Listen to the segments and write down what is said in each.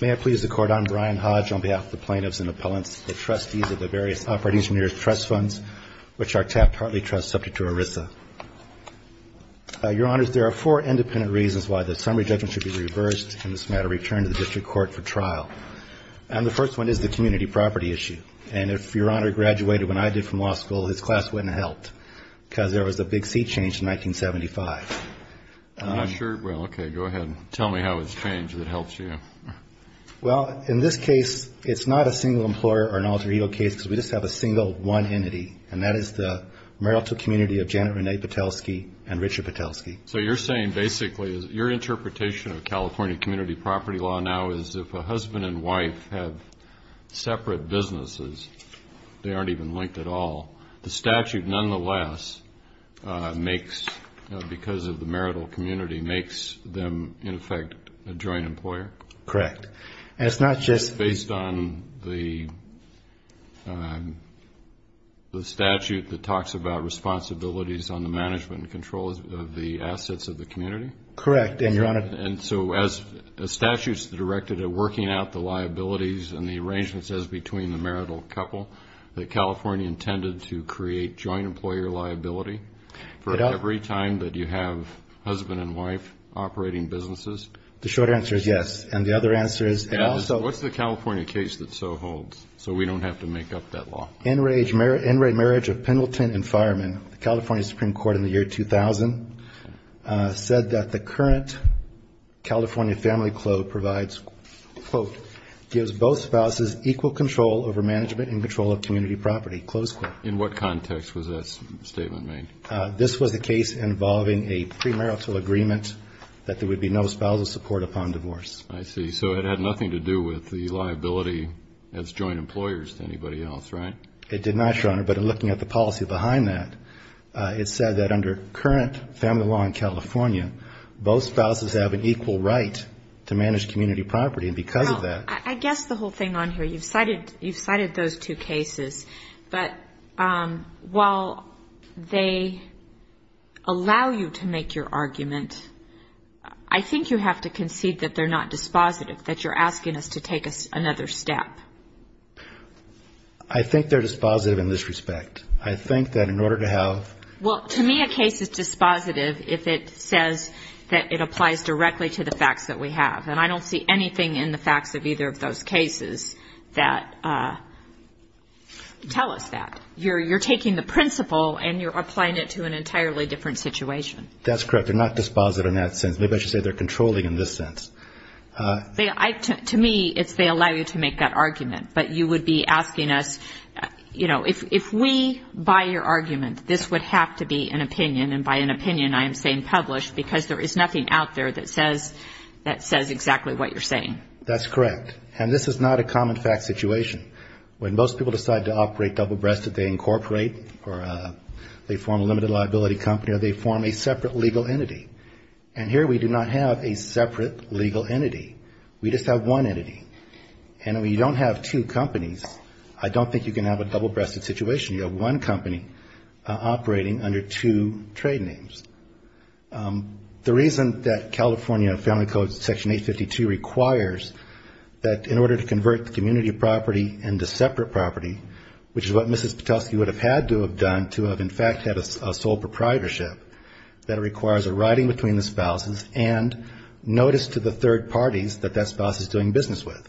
May it please the Court, I'm Brian Hodge on behalf of the Plaintiffs and Appellants, the Trustees of the various Operating Engineers Trust Funds, which are TAP Partly Trust, subject to ERISA. Your Honors, there are four independent reasons why the summary judgment should be reversed, in this matter returned to the District Court for trial. And the first one is the community property issue. And if Your Honor graduated when I did from law school, his class wouldn't have helped, because there was a big seat change in 1975. I'm not sure. Well, okay, go ahead and tell me how it's changed that helps you. Well, in this case, it's not a single employer or an alter ego case, because we just have a single one entity, and that is the Marietta community of Janet Renee Petelski and Richard Petelski. So you're saying, basically, your interpretation of California community property law now is if a husband and wife have separate businesses, they aren't even linked at all, the statute, nonetheless, makes, because of the marital community, makes them, in effect, a joint employer? Correct. And it's not just... Based on the statute that talks about responsibilities on the management and control of the assets of the community? Correct, and Your Honor... And so as the statute's directed at working out the liabilities and the arrangements as between the marital couple, that California intended to create joint employer liability for every time that you have husband and wife operating businesses? The short answer is yes. And the other answer is... What's the California case that so holds, so we don't have to make up that law? NRA marriage of Pendleton and Fireman, the California Supreme Court in the year 2000, said that the current California family code provides, quote, gives both spouses equal control over management and control of community property, close quote. In what context was that statement made? This was the case involving a premarital agreement that there would be no spousal support upon divorce. I see. So it had nothing to do with the liability as joint employers to anybody else, right? It did not, Your Honor, but in looking at the policy behind that, it said that under current family law in California, both spouses have an equal right to manage community property, and because of that... I think you have to concede that they're not dispositive, that you're asking us to take another step. I think they're dispositive in this respect. I think that in order to have... Well, to me, a case is dispositive if it says that it applies directly to the facts that we have. And I don't see anything in the facts of either of those cases that tell us that. You're taking the principle and you're applying it to an entirely different situation. That's correct. They're not dispositive in that sense. Maybe I should say they're controlling in this sense. To me, it's they allow you to make that argument. But you would be asking us, you know, if we buy your argument, this would have to be an opinion, and by an opinion I am saying published because there is nothing out there that says exactly what you're saying. That's correct. And this is not a common fact situation. When most people decide to operate double-breasted, they incorporate or they form a limited liability company or they form a separate legal entity. And here we do not have a separate legal entity. We just have one entity. And when you don't have two companies, I don't think you can have a double-breasted situation. You have one company operating under two trade names. The reason that California Family Code Section 852 requires that in order to convert the community property into separate property, which is what Mrs. Patelsky would have had to have done to have in fact had a sole proprietorship, that it requires a writing between the spouses and notice to the third parties that that spouse is doing business with.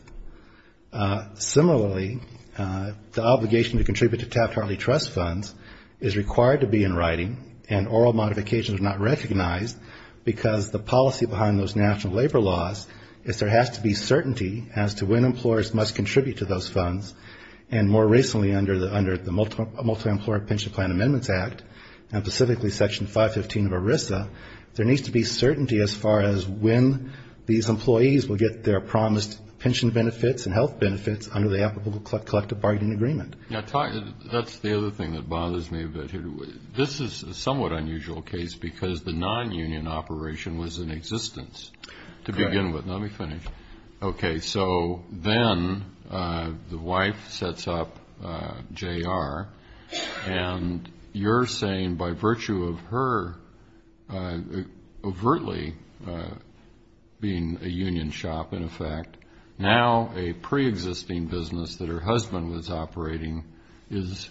Similarly, the obligation to contribute to Taft-Hartley trust funds is required to be in writing, and oral modifications are not recognized because the policy behind those national labor laws is there has to be certainty as to when employers must contribute to those funds. And more recently under the Multi-Employer Pension Plan Amendments Act, and specifically Section 515 of ERISA, there needs to be certainty as far as when these employees will get their promised pension benefits and health benefits under the applicable collective bargaining agreement. That's the other thing that bothers me a bit. This is a somewhat unusual case because the non-union operation was in existence to begin with. Let me finish. Okay, so then the wife sets up JR, and you're saying by virtue of her overtly being a union shop in effect, now a preexisting business that her husband was operating is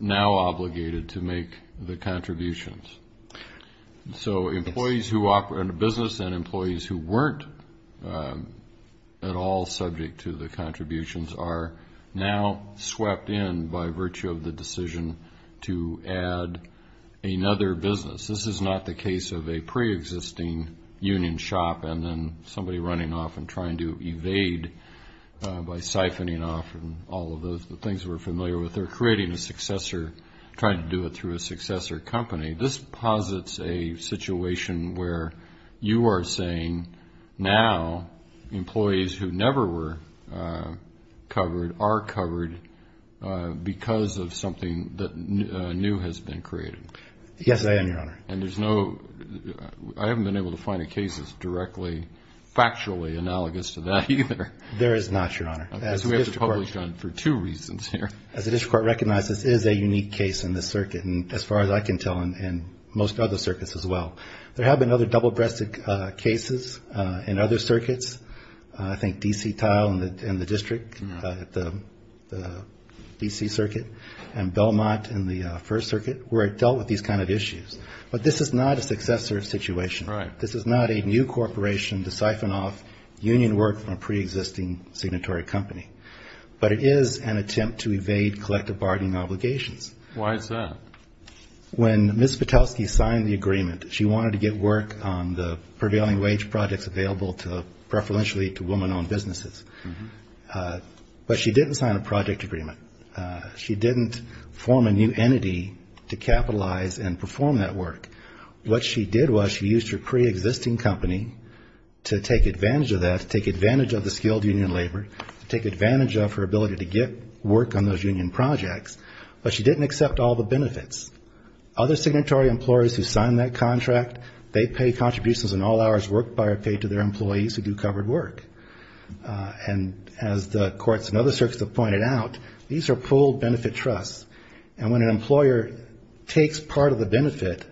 now obligated to make the contributions. So employees who operate a business and employees who weren't at all subject to the contributions are now swept in by virtue of the decision to add another business. This is not the case of a preexisting union shop and then somebody running off and trying to evade by siphoning off all of the things we're familiar with. But they're creating a successor, trying to do it through a successor company. This posits a situation where you are saying now employees who never were covered are covered because of something that new has been created. Yes, I am, Your Honor. And there's no – I haven't been able to find a case that's directly factually analogous to that either. There is not, Your Honor. As we have published on for two reasons here. As the district court recognizes, this is a unique case in this circuit, and as far as I can tell in most other circuits as well. There have been other double-breasted cases in other circuits. I think D.C. Tile in the district, the D.C. circuit, and Belmont in the First Circuit where it dealt with these kind of issues. But this is not a successor situation. Right. This is not a new corporation to siphon off union work from a preexisting signatory company. But it is an attempt to evade collective bargaining obligations. Why is that? When Ms. Patelsky signed the agreement, she wanted to get work on the prevailing wage projects available to – preferentially to woman-owned businesses. But she didn't sign a project agreement. She didn't form a new entity to capitalize and perform that work. What she did was she used her preexisting company to take advantage of that, to take advantage of the skilled union labor, to take advantage of her ability to get work on those union projects. But she didn't accept all the benefits. Other signatory employers who signed that contract, they pay contributions in all hours worked by or paid to their employees who do covered work. And as the courts and other circuits have pointed out, these are pooled benefit trusts. And when an employer takes part of the benefit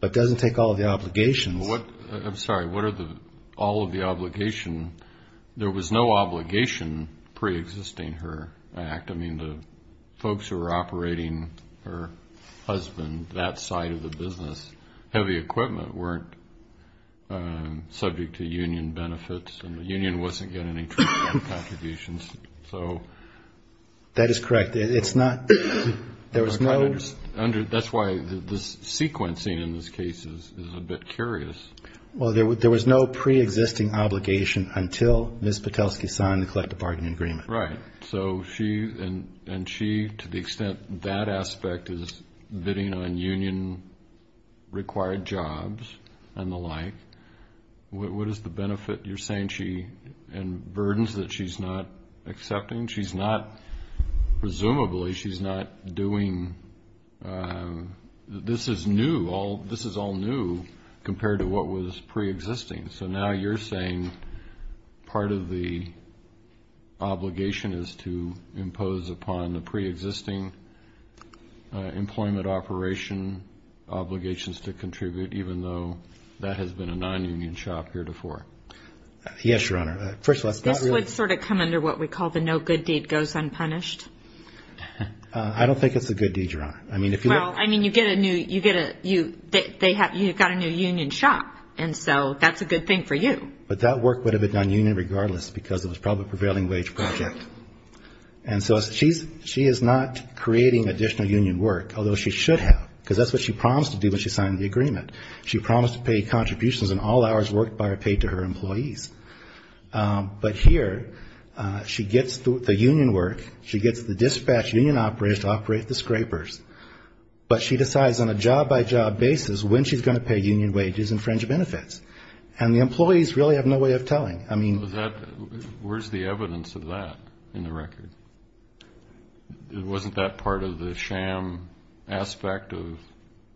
but doesn't take all of the obligations. I'm sorry. What are the – all of the obligation? There was no obligation preexisting her act. I mean, the folks who were operating her husband, that side of the business, heavy equipment, weren't subject to union benefits. And the union wasn't getting any contributions. That is correct. It's not – there was no – That's why the sequencing in this case is a bit curious. Well, there was no preexisting obligation until Ms. Patelsky signed the collective bargaining agreement. Right. So she – and she, to the extent that aspect is bidding on union-required jobs and the like, what is the benefit you're saying she – and burdens that she's not accepting? She's not – presumably she's not doing – this is new. This is all new compared to what was preexisting. So now you're saying part of the obligation is to impose upon the preexisting employment operation obligations to contribute even though that has been a non-union shop heretofore? Yes, Your Honor. First of all, it's not really – This would sort of come under what we call the no good deed goes unpunished. I don't think it's a good deed, Your Honor. I mean, if you look – Well, I mean, you get a new – you get a – you – they have – you've got a new union shop. And so that's a good thing for you. But that work would have been done union regardless because it was probably a prevailing wage project. And so she's – she is not creating additional union work, although she should have, because that's what she promised to do when she signed the agreement. She promised to pay contributions in all hours worked by or paid to her employees. But here she gets the union work, she gets the dispatch union operators to operate the scrapers, but she decides on a job-by-job basis when she's going to pay union wages and fringe benefits. And the employees really have no way of telling. I mean – Where's the evidence of that in the record? It wasn't that part of the sham aspect of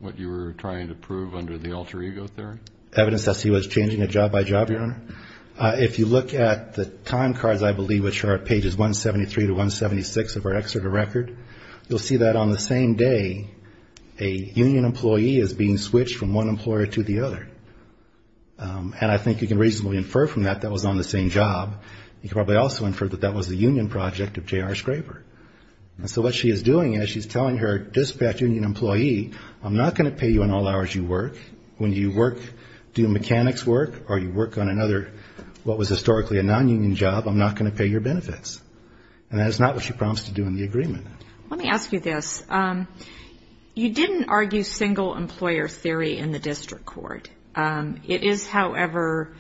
what you were trying to prove under the alter ego theory? Evidence that she was changing it job-by-job, Your Honor. If you look at the time cards, I believe, which are at pages 173 to 176 of our Exeter record, you'll see that on the same day a union employee is being switched from one employer to the other. And I think you can reasonably infer from that that was on the same job. You can probably also infer that that was a union project of J.R. Scraper. And so what she is doing is she's telling her dispatch union employee, I'm not going to pay you in all hours you work. When you work, do mechanics work, or you work on another, what was historically a non-union job, I'm not going to pay your benefits. And that is not what she promised to do in the agreement. Let me ask you this. You didn't argue single employer theory in the district court. It is, however,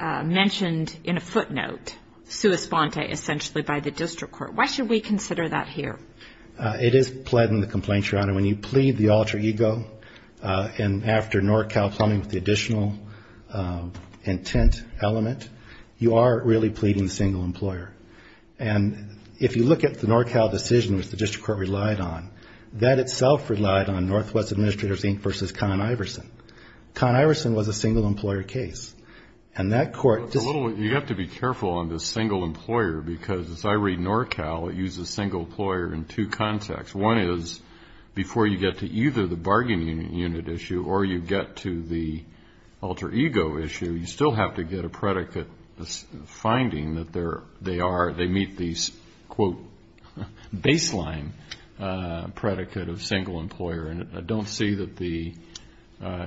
mentioned in a footnote, sua sponte, essentially, by the district court. Why should we consider that here? It is pled in the complaint, Your Honor. When you plead the alter ego and after NorCal plumbing with the additional intent element, you are really pleading single employer. And if you look at the NorCal decision, which the district court relied on, that itself relied on Northwest Administrators, Inc. v. Con Iverson. Con Iverson was a single employer case. And that court just... You have to be careful on the single employer because, as I read NorCal, it uses single employer in two contexts. One is before you get to either the bargain unit issue or you get to the alter ego issue, you still have to get a predicate finding that they meet these, quote, baseline predicate of single employer. And I don't see that the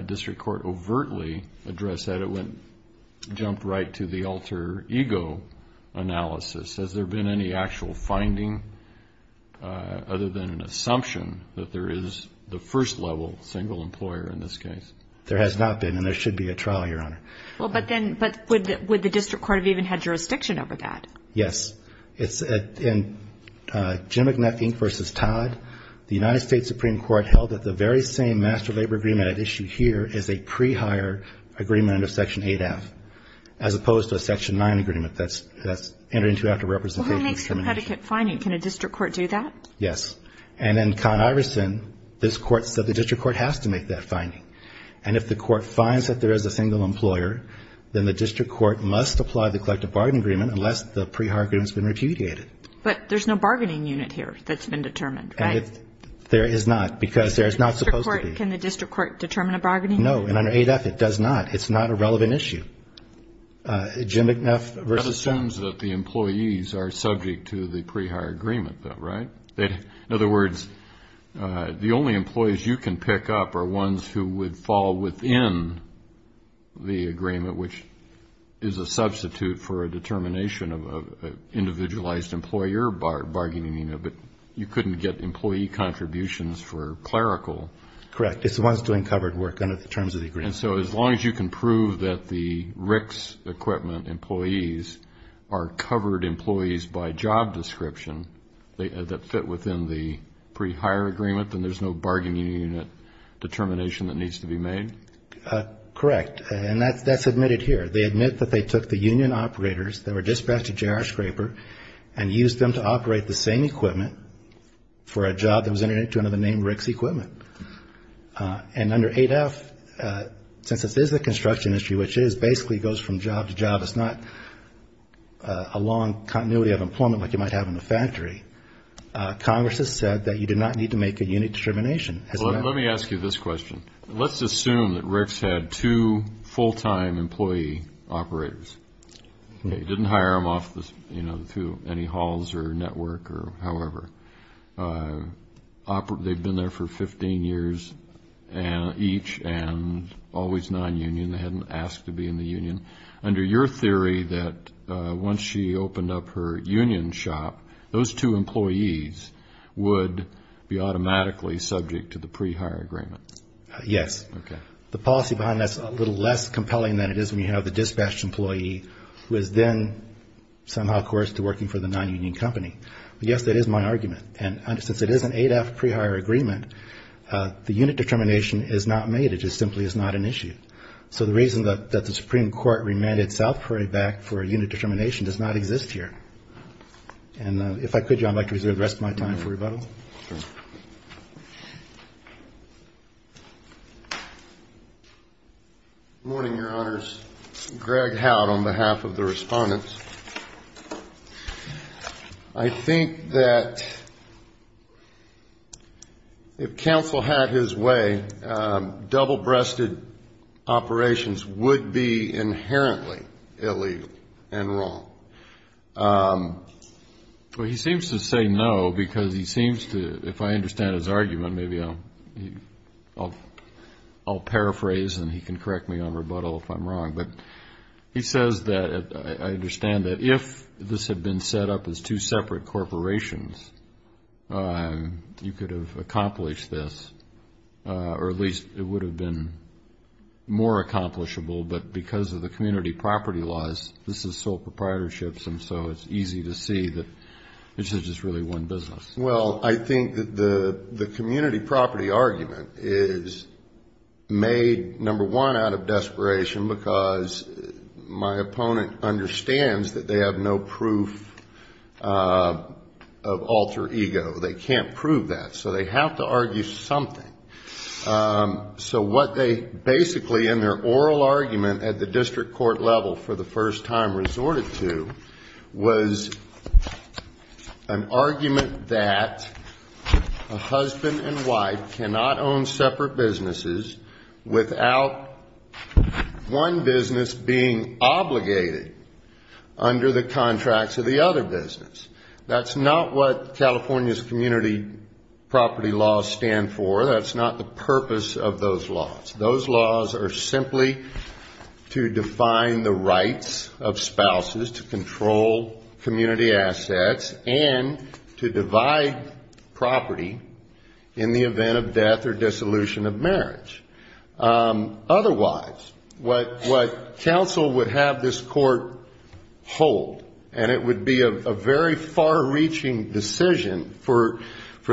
district court overtly addressed that. It jumped right to the alter ego analysis. Has there been any actual finding, other than an assumption, that there is the first level single employer in this case? There has not been, and there should be a trial, Your Honor. But would the district court have even had jurisdiction over that? Yes. In Jim McNeff, Inc. v. Todd, the United States Supreme Court held that the very same master labor agreement at issue here is a pre-hire agreement under Section 8F, as opposed to a Section 9 agreement that's entered into after representation. Well, who makes the predicate finding? Can a district court do that? Yes. And in Con Iverson, this court said the district court has to make that finding. And if the court finds that there is a single employer, then the district court must apply the collective bargain agreement, unless the pre-hire agreement has been repudiated. But there's no bargaining unit here that's been determined, right? There is not, because there is not supposed to be. Can the district court determine a bargaining unit? No, and under 8F it does not. It's not a relevant issue. Jim McNeff v. Todd. That assumes that the employees are subject to the pre-hire agreement, though, right? In other words, the only employees you can pick up are ones who would fall within the agreement, which is a substitute for a determination of an individualized employer bargaining unit, but you couldn't get employee contributions for clerical. Correct. It's the ones doing covered work under the terms of the agreement. And so as long as you can prove that the RICS equipment employees are covered employees by job description that fit within the pre-hire agreement, then there's no bargaining unit determination that needs to be made? Correct. And that's admitted here. They admit that they took the union operators that were dispatched to J.R. Scraper and used them to operate the same equipment for a job that was entered into under the name RICS equipment. And under 8F, since this is a construction industry, which basically goes from job to job, it's not a long continuity of employment like you might have in a factory, Congress has said that you do not need to make a unit determination. Let me ask you this question. Let's assume that RICS had two full-time employee operators. They didn't hire them off through any halls or network or however. They've been there for 15 years each and always non-union. They hadn't asked to be in the union. Under your theory that once she opened up her union shop, those two employees would be automatically subject to the pre-hire agreement? Yes. Okay. The policy behind that's a little less compelling than it is when you have the dispatched employee who is then somehow coerced to working for the non-union company. But, yes, that is my argument. And since it is an 8F pre-hire agreement, the unit determination is not made. It just simply is not an issue. So the reason that the Supreme Court remanded South Prairie back for a unit determination does not exist here. And if I could, Your Honor, I'd like to reserve the rest of my time for rebuttal. Sure. Good morning, Your Honors. Greg Howd on behalf of the Respondents. I think that if counsel had his way, double-breasted operations would be inherently illegal and wrong. Well, he seems to say no because he seems to, if I understand his argument, maybe I'll paraphrase and he can correct me on rebuttal if I'm wrong. But he says that I understand that if this had been set up as two separate corporations, you could have accomplished this, or at least it would have been more accomplishable, but because of the community property laws, this is sole proprietorships, and so it's easy to see that this is just really one business. Well, I think that the community property argument is made, number one, out of desperation, because my opponent understands that they have no proof of alter ego. They can't prove that. So they have to argue something. So what they basically, in their oral argument at the district court level for the first time resorted to, was an argument that a husband and wife cannot own separate businesses without one business being obligated under the contracts of the other business. That's not what California's community property laws stand for. That's not the purpose of those laws. Those laws are simply to define the rights of spouses to control community assets and to divide property in the event of death or dissolution of marriage. Otherwise, what counsel would have this court hold, and it would be a very far-reaching decision for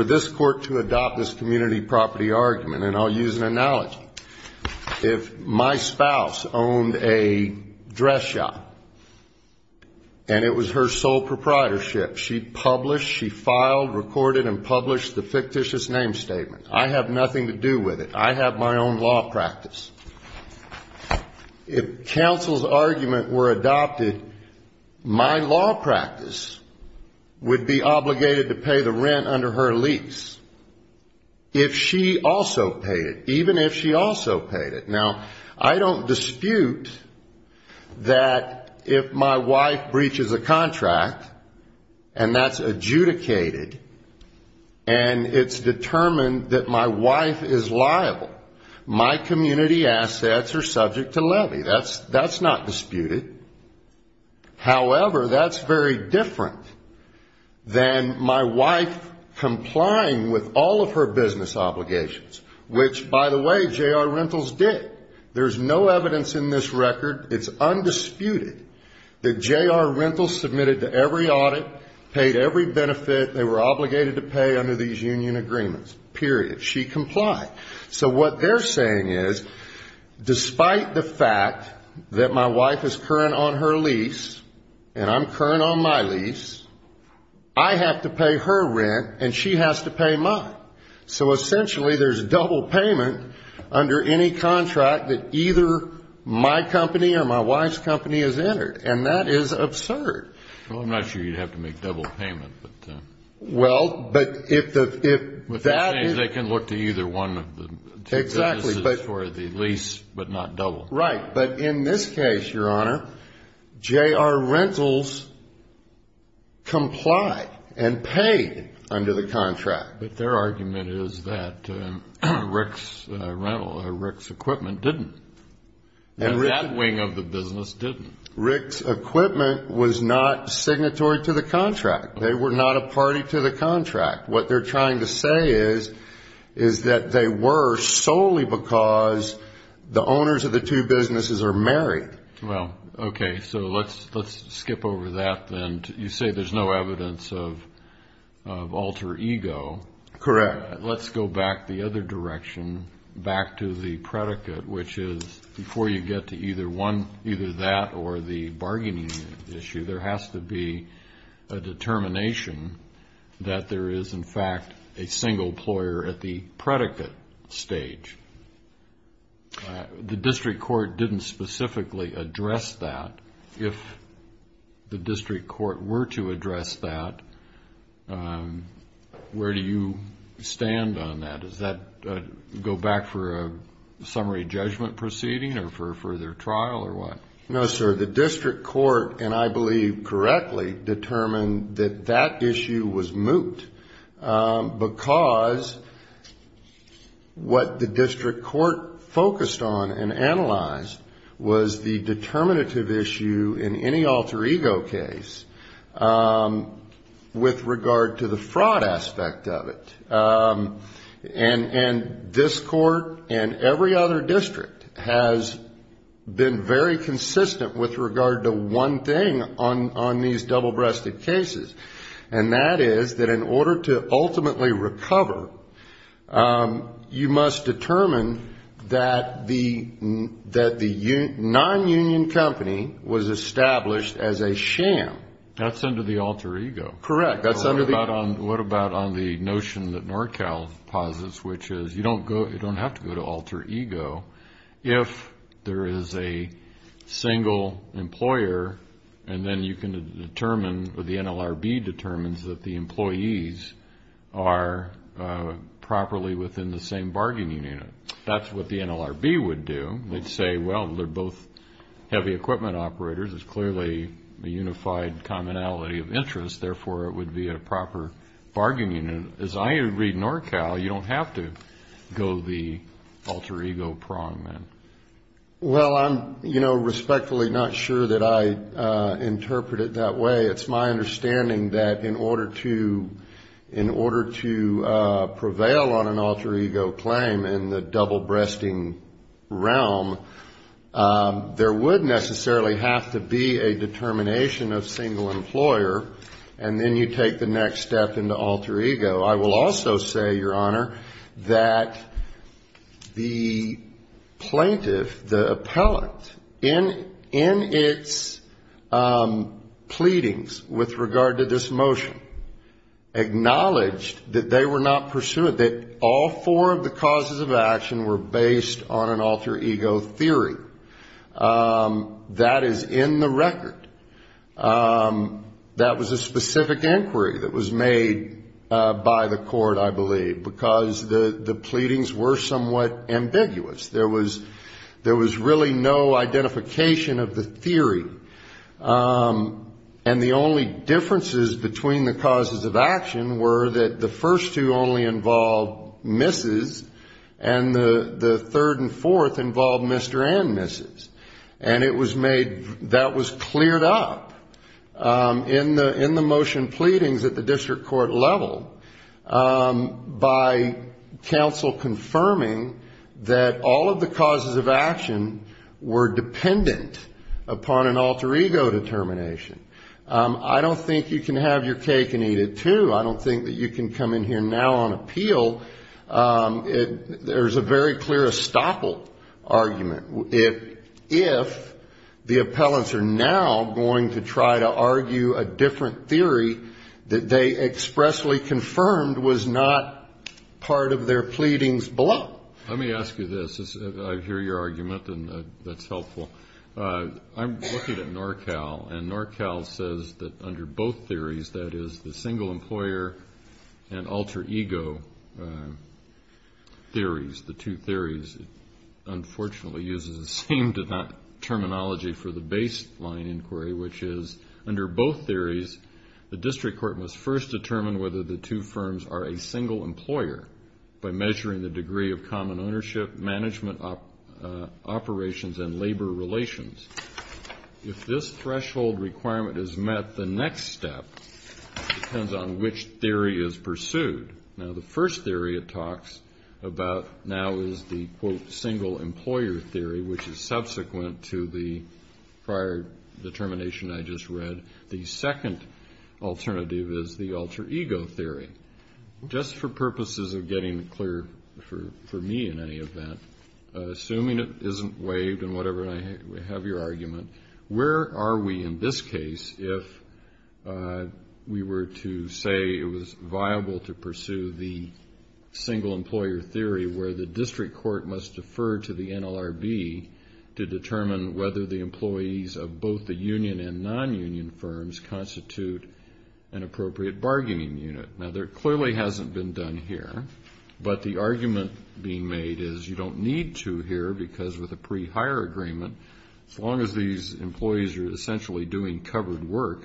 this court to adopt this community property argument, and I'll use an analogy. If my spouse owned a dress shop and it was her sole proprietorship, she published, she filed, recorded and published the fictitious name statement. I have nothing to do with it. I have my own law practice. If counsel's argument were adopted, my law practice would be obligated to pay the rent under her lease, if she also paid it, even if she also paid it. Now, I don't dispute that if my wife breaches a contract, and that's adjudicated, and it's determined that my wife is liable, my community assets are subject to levy. That's not disputed. However, that's very different than my wife complying with all of her business obligations, which, by the way, J.R. Rentals did. There's no evidence in this record, it's undisputed, that J.R. Rentals submitted to every audit, paid every benefit they were entitled to, and she complied. So what they're saying is, despite the fact that my wife is current on her lease, and I'm current on my lease, I have to pay her rent, and she has to pay mine. So essentially there's double payment under any contract that either my company or my wife's company has entered, and that is absurd. Well, I'm not sure you'd have to make double payment. They can look to either one of the two businesses for the lease, but not double. Right, but in this case, Your Honor, J.R. Rentals complied and paid under the contract. But their argument is that Rick's equipment didn't, and that wing of the business didn't. Rick's equipment was not signatory to the contract. They were not a party to the contract. What they're trying to say is that they were solely because the owners of the two businesses are married. Well, okay, so let's skip over that then. You say there's no evidence of alter ego. Correct. Let's go back the other direction, back to the predicate, which is before you get to either that or the bargaining issue, there has to be a single ployer at the predicate stage. The district court didn't specifically address that. If the district court were to address that, where do you stand on that? Does that go back for a summary judgment proceeding or for further trial or what? No, sir. The district court, and I believe correctly, determined that that issue was moot. Because what the district court focused on and analyzed was the determinative issue in any alter ego case with regard to the fraud aspect of it. And this court and every other district has been very consistent with regard to one thing on these double-breasted cases. And that is that in order to ultimately recover, you must determine that the non-union company was established as a sham. That's under the alter ego. Correct. What about on the notion that NorCal posits, which is you don't have to go to alter ego if there is a single employer and then you can determine, or the NLRB determines that the employees are properly within the same bargaining unit. That's what the NLRB would do. They'd say, well, they're both heavy equipment operators. It's clearly a unified commonality of interest. Therefore, it would be a proper bargaining unit. As I read NorCal, you don't have to go the alter ego prong, then. Well, I'm, you know, respectfully not sure that I interpret it that way. It's my understanding that in order to prevail on an alter ego claim in the double-breasting realm, there would necessarily have to be a determination of single employer, and then you take the next step into alter ego. I will also say, Your Honor, that the plaintiff, the appellant, in its pleadings with regard to this motion, acknowledged that they were not pursuant, that all four of the causes of action were based on an alter ego theory. That is in the record. That was a specific inquiry that was made by the court, I believe, because the pleadings were somewhat ambiguous. There was really no identification of the theory. And the only differences between the causes of action were that the first two only involved Mrs., and the third and fourth involved Mr. N. And it was made, that was cleared up in the motion pleadings at the district court level by counsel confirming that all of the causes of action were dependent upon an alter ego determination. I don't think you can have your cake and eat it, too. I don't think that you can come in here now on appeal. There's a very clear estoppel argument. If the appellants are now going to try to argue a different theory that they expressly confirmed was not part of their pleadings below. Let me ask you this. I hear your argument, and that's helpful. I'm looking at NorCal, and NorCal says that under both theories, that is the single employer and alter ego theories, the two theories, unfortunately uses the same terminology for the baseline inquiry, which is under both theories, the district court must first determine whether the two firms are a single employer by measuring the degree of common ownership, management operations and labor relations. If this threshold requirement is met, the next step depends on which theory is pursued. Now, the first theory it talks about now is the quote single employer theory, which is subsequent to the prior determination I just read. The second alternative is the alter ego theory. Just for purposes of getting clear for me in any event, assuming it isn't waived and whatever, and I have your opportunity to argue it, where are we in this case if we were to say it was viable to pursue the single employer theory where the district court must defer to the NLRB to determine whether the employees of both the union and non-union firms constitute an appropriate bargaining unit. Now, there clearly hasn't been done here, but the argument being made is you don't need to here because with a firm as these employees are essentially doing covered work,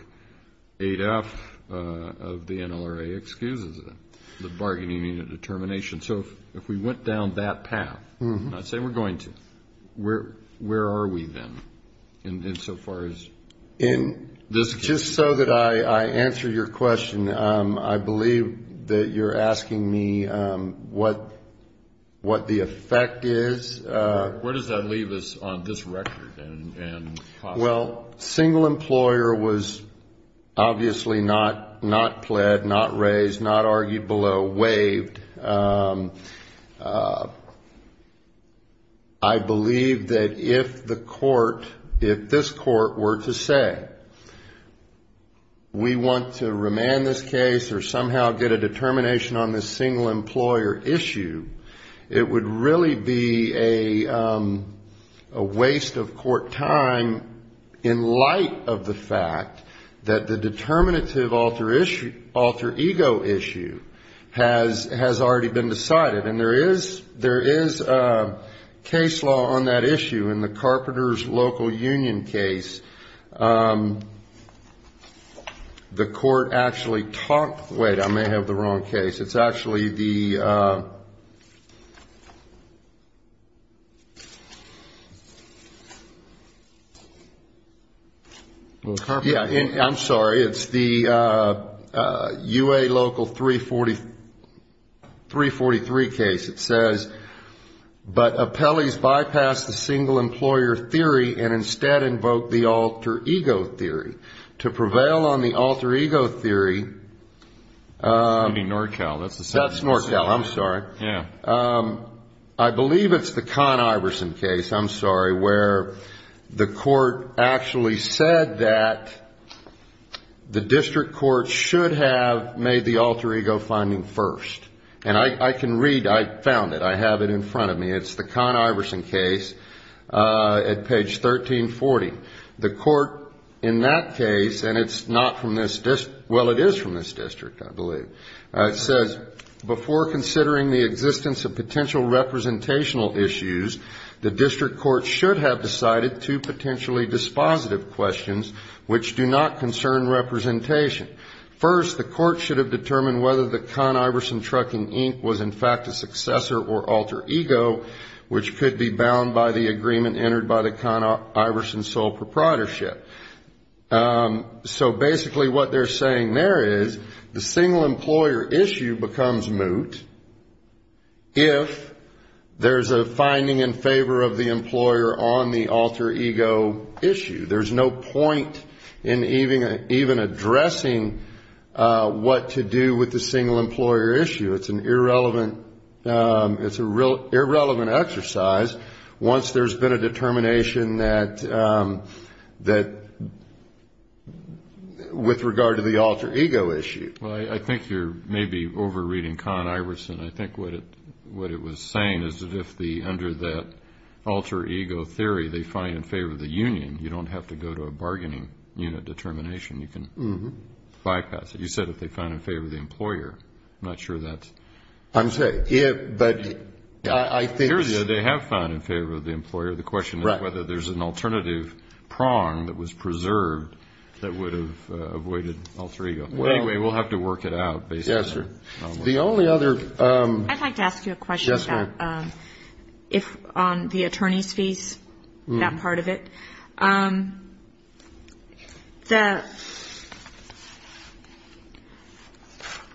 8F of the NLRA excuses it, the bargaining unit determination. So if we went down that path, not say we're going to, where are we then in so far as... In this, just so that I answer your question, I believe that you're asking me what the effect is. Where does that leave us on this record? Well, single employer was obviously not pled, not raised, not argued below, waived. I believe that if the court, if this court were to say, we want to remand this case or somehow get a determination on this single employer issue, it would really be a single employer issue. It would be a waste of court time in light of the fact that the determinative alter ego issue has already been decided. And there is a case law on that issue in the Carpenters Local Union case. The court actually talked, wait, I may have the wrong case. It's actually the, yeah, I'm sorry, it's the UA Local 343 case. It says, but appellees bypass the single employer theory and instead invoke the alter ego theory. To prevail on the alter ego theory... That's NorCal, I'm sorry. I believe it's the Con Iverson case, I'm sorry, where the court actually said that the district court should have made the alter ego finding first. And I can read, I found it, I have it in front of me. It's the Con Iverson case at page 1340. The court in that case, and it's not from this, well, it is from this district, I believe. It says, before considering the existence of potential representational issues, the district court should have decided two potentially dispositive questions which do not concern representation. First, the court should have determined whether the Con Iverson Trucking Inc. was in fact a successor or alter ego, which could be bound by the alter ego proprietorship. So basically what they're saying there is the single employer issue becomes moot if there's a finding in favor of the employer on the alter ego issue. There's no point in even addressing what to do with the single employer issue. It's an irrelevant, it's a real irrelevant exercise once there's been a determination that the alter ego issue is not in favor of the single employer, that with regard to the alter ego issue. Well, I think you're maybe over-reading Con Iverson. I think what it was saying is that if under that alter ego theory they find in favor of the union, you don't have to go to a bargaining unit determination. You can bypass it. You said if they find in favor of the employer. I'm not sure that's... They have found in favor of the employer. The question is whether there's an alternative prong that was preserved that would have avoided alter ego. Anyway, we'll have to work it out. I'd like to ask you a question about if on the attorney's fees, that part of it, the,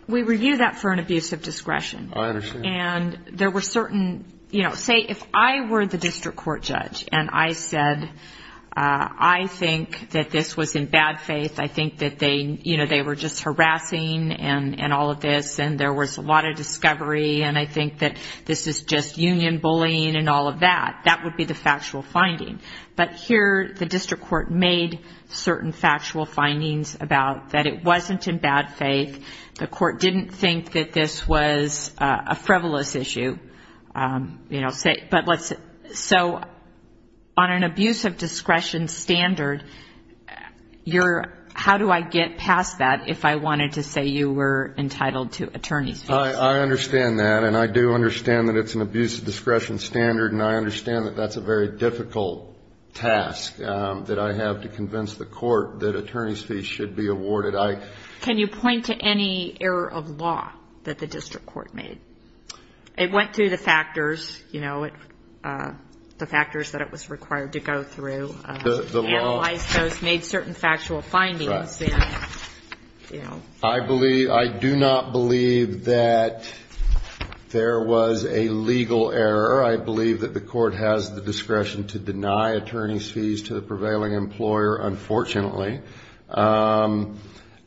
we review that for an abuse of discretion. And there were certain, you know, say if I were the district court judge and I said I think that this was in bad faith, I think that they, you know, they were just harassing and all of this and there was a lot of discovery and I think that this is just union bullying and all of that. That would be the factual finding. But here the district court made certain factual findings about that it wasn't in bad faith. The court didn't think that this was a frivolous issue. So on an abuse of discretion standard, how do I get past that if I wanted to say you were entitled to attorney's fees? I understand that and I do understand that it's an abuse of discretion standard and I understand that that's a very difficult task that I have to convince the court that attorney's fees should be awarded. Can you point to any error of law that the district court made? It went through the factors, you know, the factors that it was required to go through, analyzed those, made certain factual findings. I believe, I do not believe that there was a legal error. I believe that the court has the discretion to deny attorney's fees to the prevailing employer, unfortunately.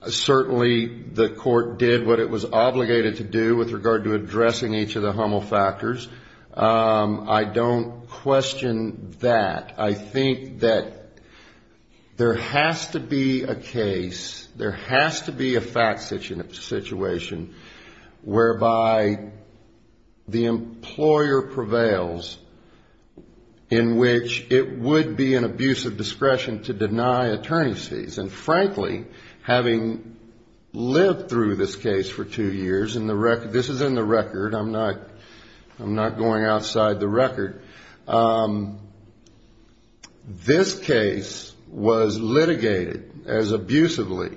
Certainly the court did what it was obligated to do with regard to addressing each of the HUML factors. I don't question that. I think that there has to be a case, there has to be a fact situation whereby the employer prevails and the employer prevails. In which it would be an abuse of discretion to deny attorney's fees. And frankly, having lived through this case for two years, and this is in the record, I'm not going outside the record. This case was litigated as abusively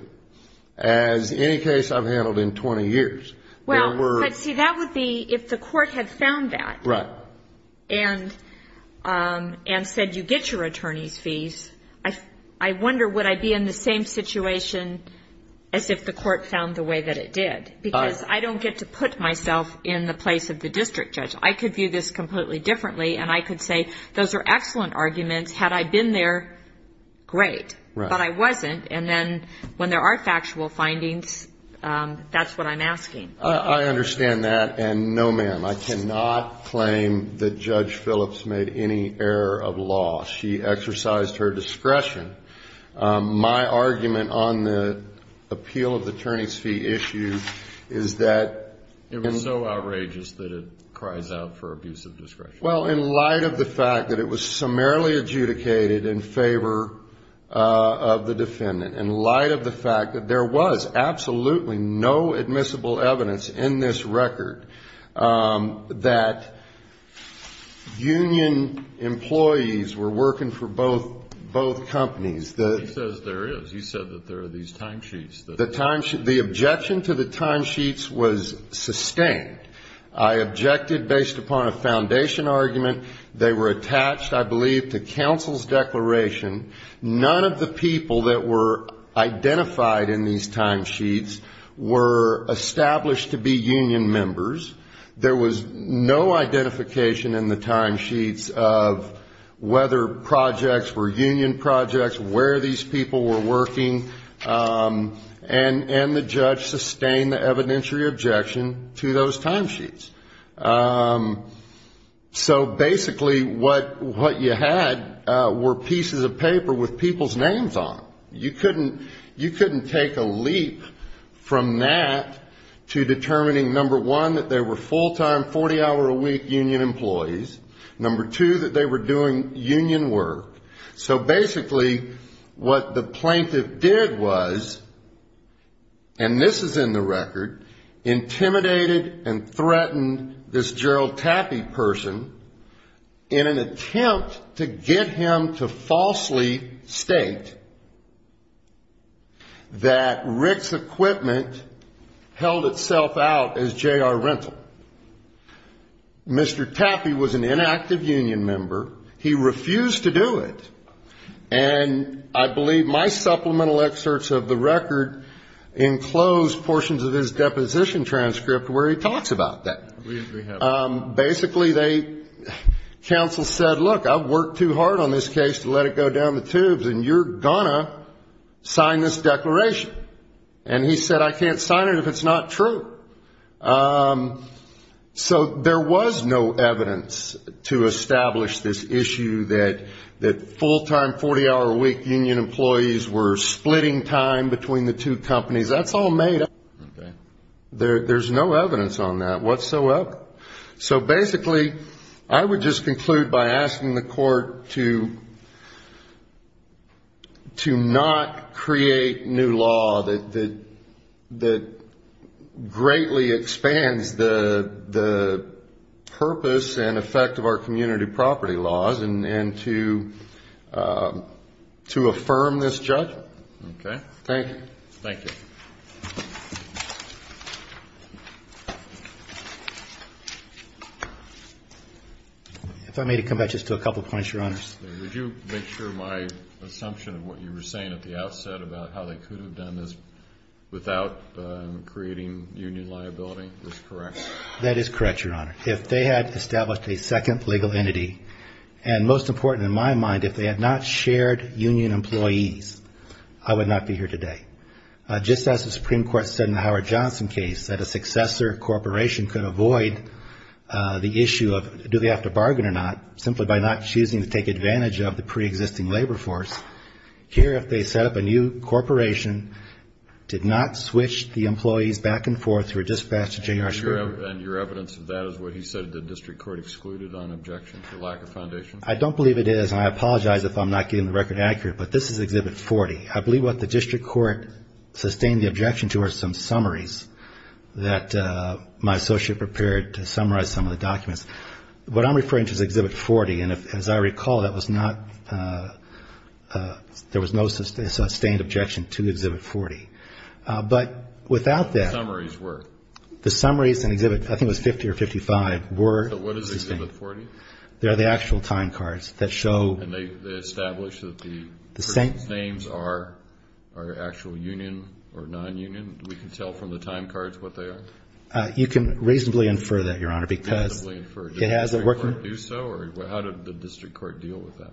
as any case I've handled in 20 years. Well, but see, that would be, if the court had found that, and said you get your attorney's fees, I wonder, would I be in the same situation as if the court found the way that it did? Because I don't get to put myself in the place of the district judge. I could view this completely differently, and I could say, those are excellent arguments, had I been there, great. But I wasn't, and then when there are factual findings, that's what I'm asking. I understand that, and no ma'am, I cannot claim that Judge Phillips made any error of law. She exercised her discretion. My argument on the appeal of the attorney's fee issue is that... It was so outrageous that it cries out for abuse of discretion. Well, in light of the fact that it was summarily adjudicated in favor of the defendant, in light of the fact that there was absolutely no admissible evidence in this record that union employees were working for both companies... He says there is. He said that there are these timesheets. The objection to the timesheets was sustained. I objected based upon a foundation argument. They were attached, I believe, to counsel's declaration. None of the people that were identified in these timesheets were established to be union members. There was no identification in the timesheets of whether projects were union projects, where these people were working. And the judge sustained the evidentiary objection to those timesheets. So basically what you had were pieces of paper with people's names on them. You couldn't take a leap from that to determining, number one, that they were full-time, 40-hour-a-week union employees. Number two, that they were doing union work. So basically what the plaintiff did was, and this is in the record, intimidated and threatened this Gerald Tappe person in an attempt to get him to falsely state that Rick's equipment held itself out as J.R. Rental. Mr. Tappe was an inactive union member. He refused to do it. And I believe my supplemental excerpts of the record enclose portions of his deposition transcript where he talks about that. Basically they, counsel said, look, I've worked too hard on this case to let it go down the tubes, and you're going to sign this declaration. And he said, I can't sign it if it's not true. So there was no evidence to establish this issue that full-time, 40-hour-a-week union employees were splitting time between the two companies. That's all made up. There's no evidence on that whatsoever. So basically I would just conclude by asking the court to not create new law that greatly expands the purpose and effect of our community property laws and to affirm this judgment. Thank you. If I may come back just to a couple of points, Your Honor. Would you make sure my assumption of what you were saying at the outset about how they could have done this without creating union liability is correct? That is correct, Your Honor. If they had established a second legal entity, and most important in my mind, if they had not shared union employees, I would not be here today. Just as the Supreme Court said in the Howard Johnson case, that a successor corporation could avoid the issue of do they have to bargain or not, simply by not choosing to take advantage of the pre-existing labor force. Here, if they set up a new corporation, did not switch the employees back and forth through a dispatch to J.R. Schwartz. And your evidence of that is what he said the district court excluded on objection to lack of foundation? I don't believe it is, and I apologize if I'm not getting the record accurate, but this is Exhibit 40. What I did sustain the objection to are some summaries that my associate prepared to summarize some of the documents. What I'm referring to is Exhibit 40, and as I recall, that was not, there was no sustained objection to Exhibit 40. But without that, the summaries in Exhibit, I think it was 50 or 55, were sustained. So what is Exhibit 40? They're the actual time cards that show... And they establish that the names are actual union or non-union? We can tell from the time cards what they are? You can reasonably infer that, Your Honor, because it has a working... Does the Supreme Court do so, or how did the district court deal with that?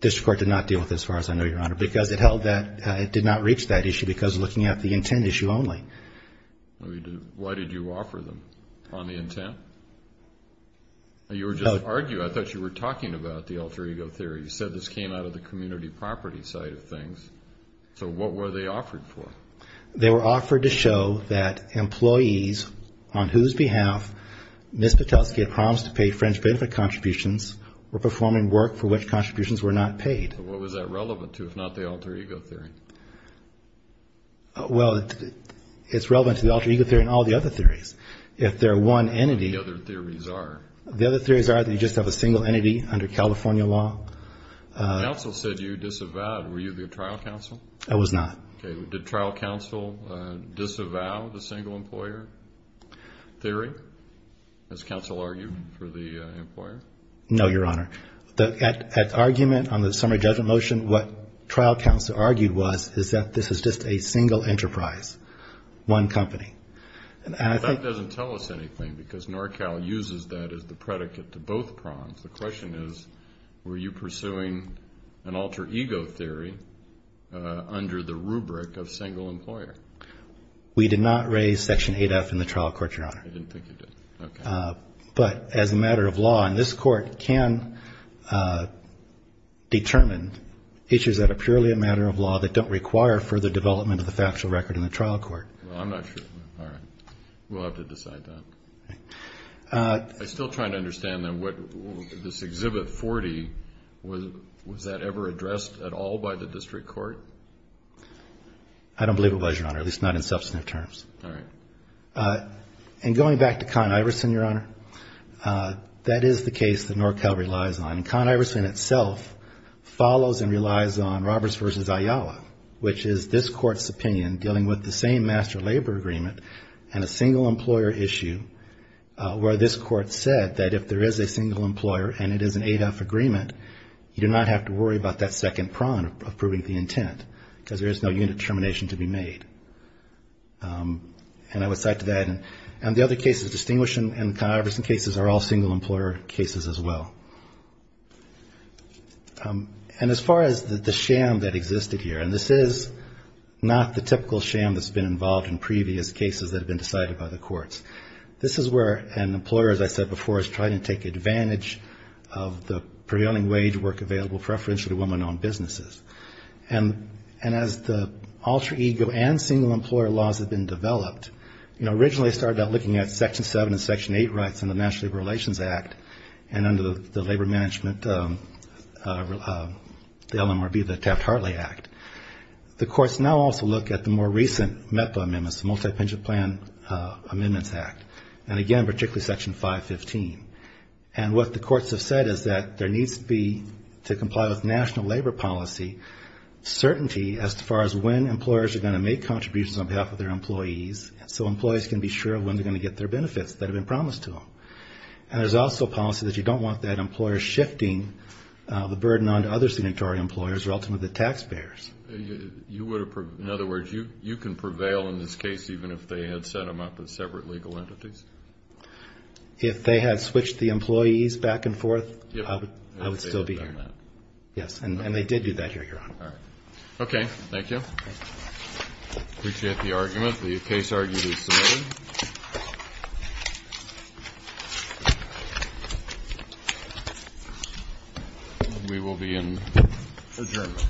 District court did not deal with it as far as I know, Your Honor, because it held that it did not reach that issue because looking at the intent issue only. Why did you offer them on the intent? You were just arguing, I thought you were talking about the alter ego theory. You said this came out of the community property side of things. So what were they offered for? They were offered to show that employees on whose behalf Ms. Patelsky had promised to pay French benefit contributions were performing work for which contributions were not paid. What was that relevant to, if not the alter ego theory? Well, it's relevant to the alter ego theory and all the other theories. The other theories are that you just have a single entity under California law. The counsel said you disavowed. Were you the trial counsel? I was not. Did trial counsel disavow the single employer theory, as counsel argued for the employer? No, Your Honor. At argument on the summary judgment motion, what trial counsel argued was, is that this is just a single enterprise, one company. That doesn't tell us anything, because NorCal uses that as the predicate to both prongs. The question is, were you pursuing an alter ego theory under the rule of law? We did not raise Section 8F in the trial court, Your Honor. I didn't think you did, okay. But as a matter of law, and this court can determine issues that are purely a matter of law that don't require further development of the factual record in the trial court. Well, I'm not sure. All right. We'll have to decide that. I'm still trying to understand then, this Exhibit 40, was that ever addressed at all by the district court? I don't believe it was, Your Honor, at least not in substantive terms. All right. And going back to Con Iverson, Your Honor, that is the case that NorCal relies on. Con Iverson itself follows and relies on Roberts v. Ayala, which is this court's opinion, dealing with the same master labor agreement and a single employer issue, where this court said that if there is a single employer and it is an 8F agreement, you do not have to worry about that second prong of proving the intent, because there is no unit to prove the intent. There is no determination to be made. And I would cite to that, and the other cases distinguished in Con Iverson cases are all single employer cases as well. And as far as the sham that existed here, and this is not the typical sham that's been involved in previous cases that have been decided by the courts. This is where an employer, as I said before, is trying to take advantage of the prevailing wage work available, preferentially to women-owned businesses. And as the alter ego and single employer laws have been developed, you know, originally started out looking at Section 7 and Section 8 rights under the National Labor Relations Act and under the labor management, the LMRB, the Taft-Hartley Act. The courts now also look at the more recent MEPA amendments, the Multi-Pension Plan Amendments Act, and again, particularly Section 515. And what the courts have said is that there needs to be, to comply with national labor policy, certainty as far as when employers are going to make contributions on behalf of their employees, so employees can be sure of when they're going to get their benefits that have been promised to them. And there's also policy that you don't want that employer shifting the burden onto other signatory employers, or ultimately the taxpayers. You would have, in other words, you can prevail in this case even if they had set them up as separate legal entities? If they had switched the employees back and forth, I would still be here. Yes, and they did do that here, Your Honor. Okay, thank you. I appreciate the argument. The case argument is submitted. We will be in adjournment. Thank you.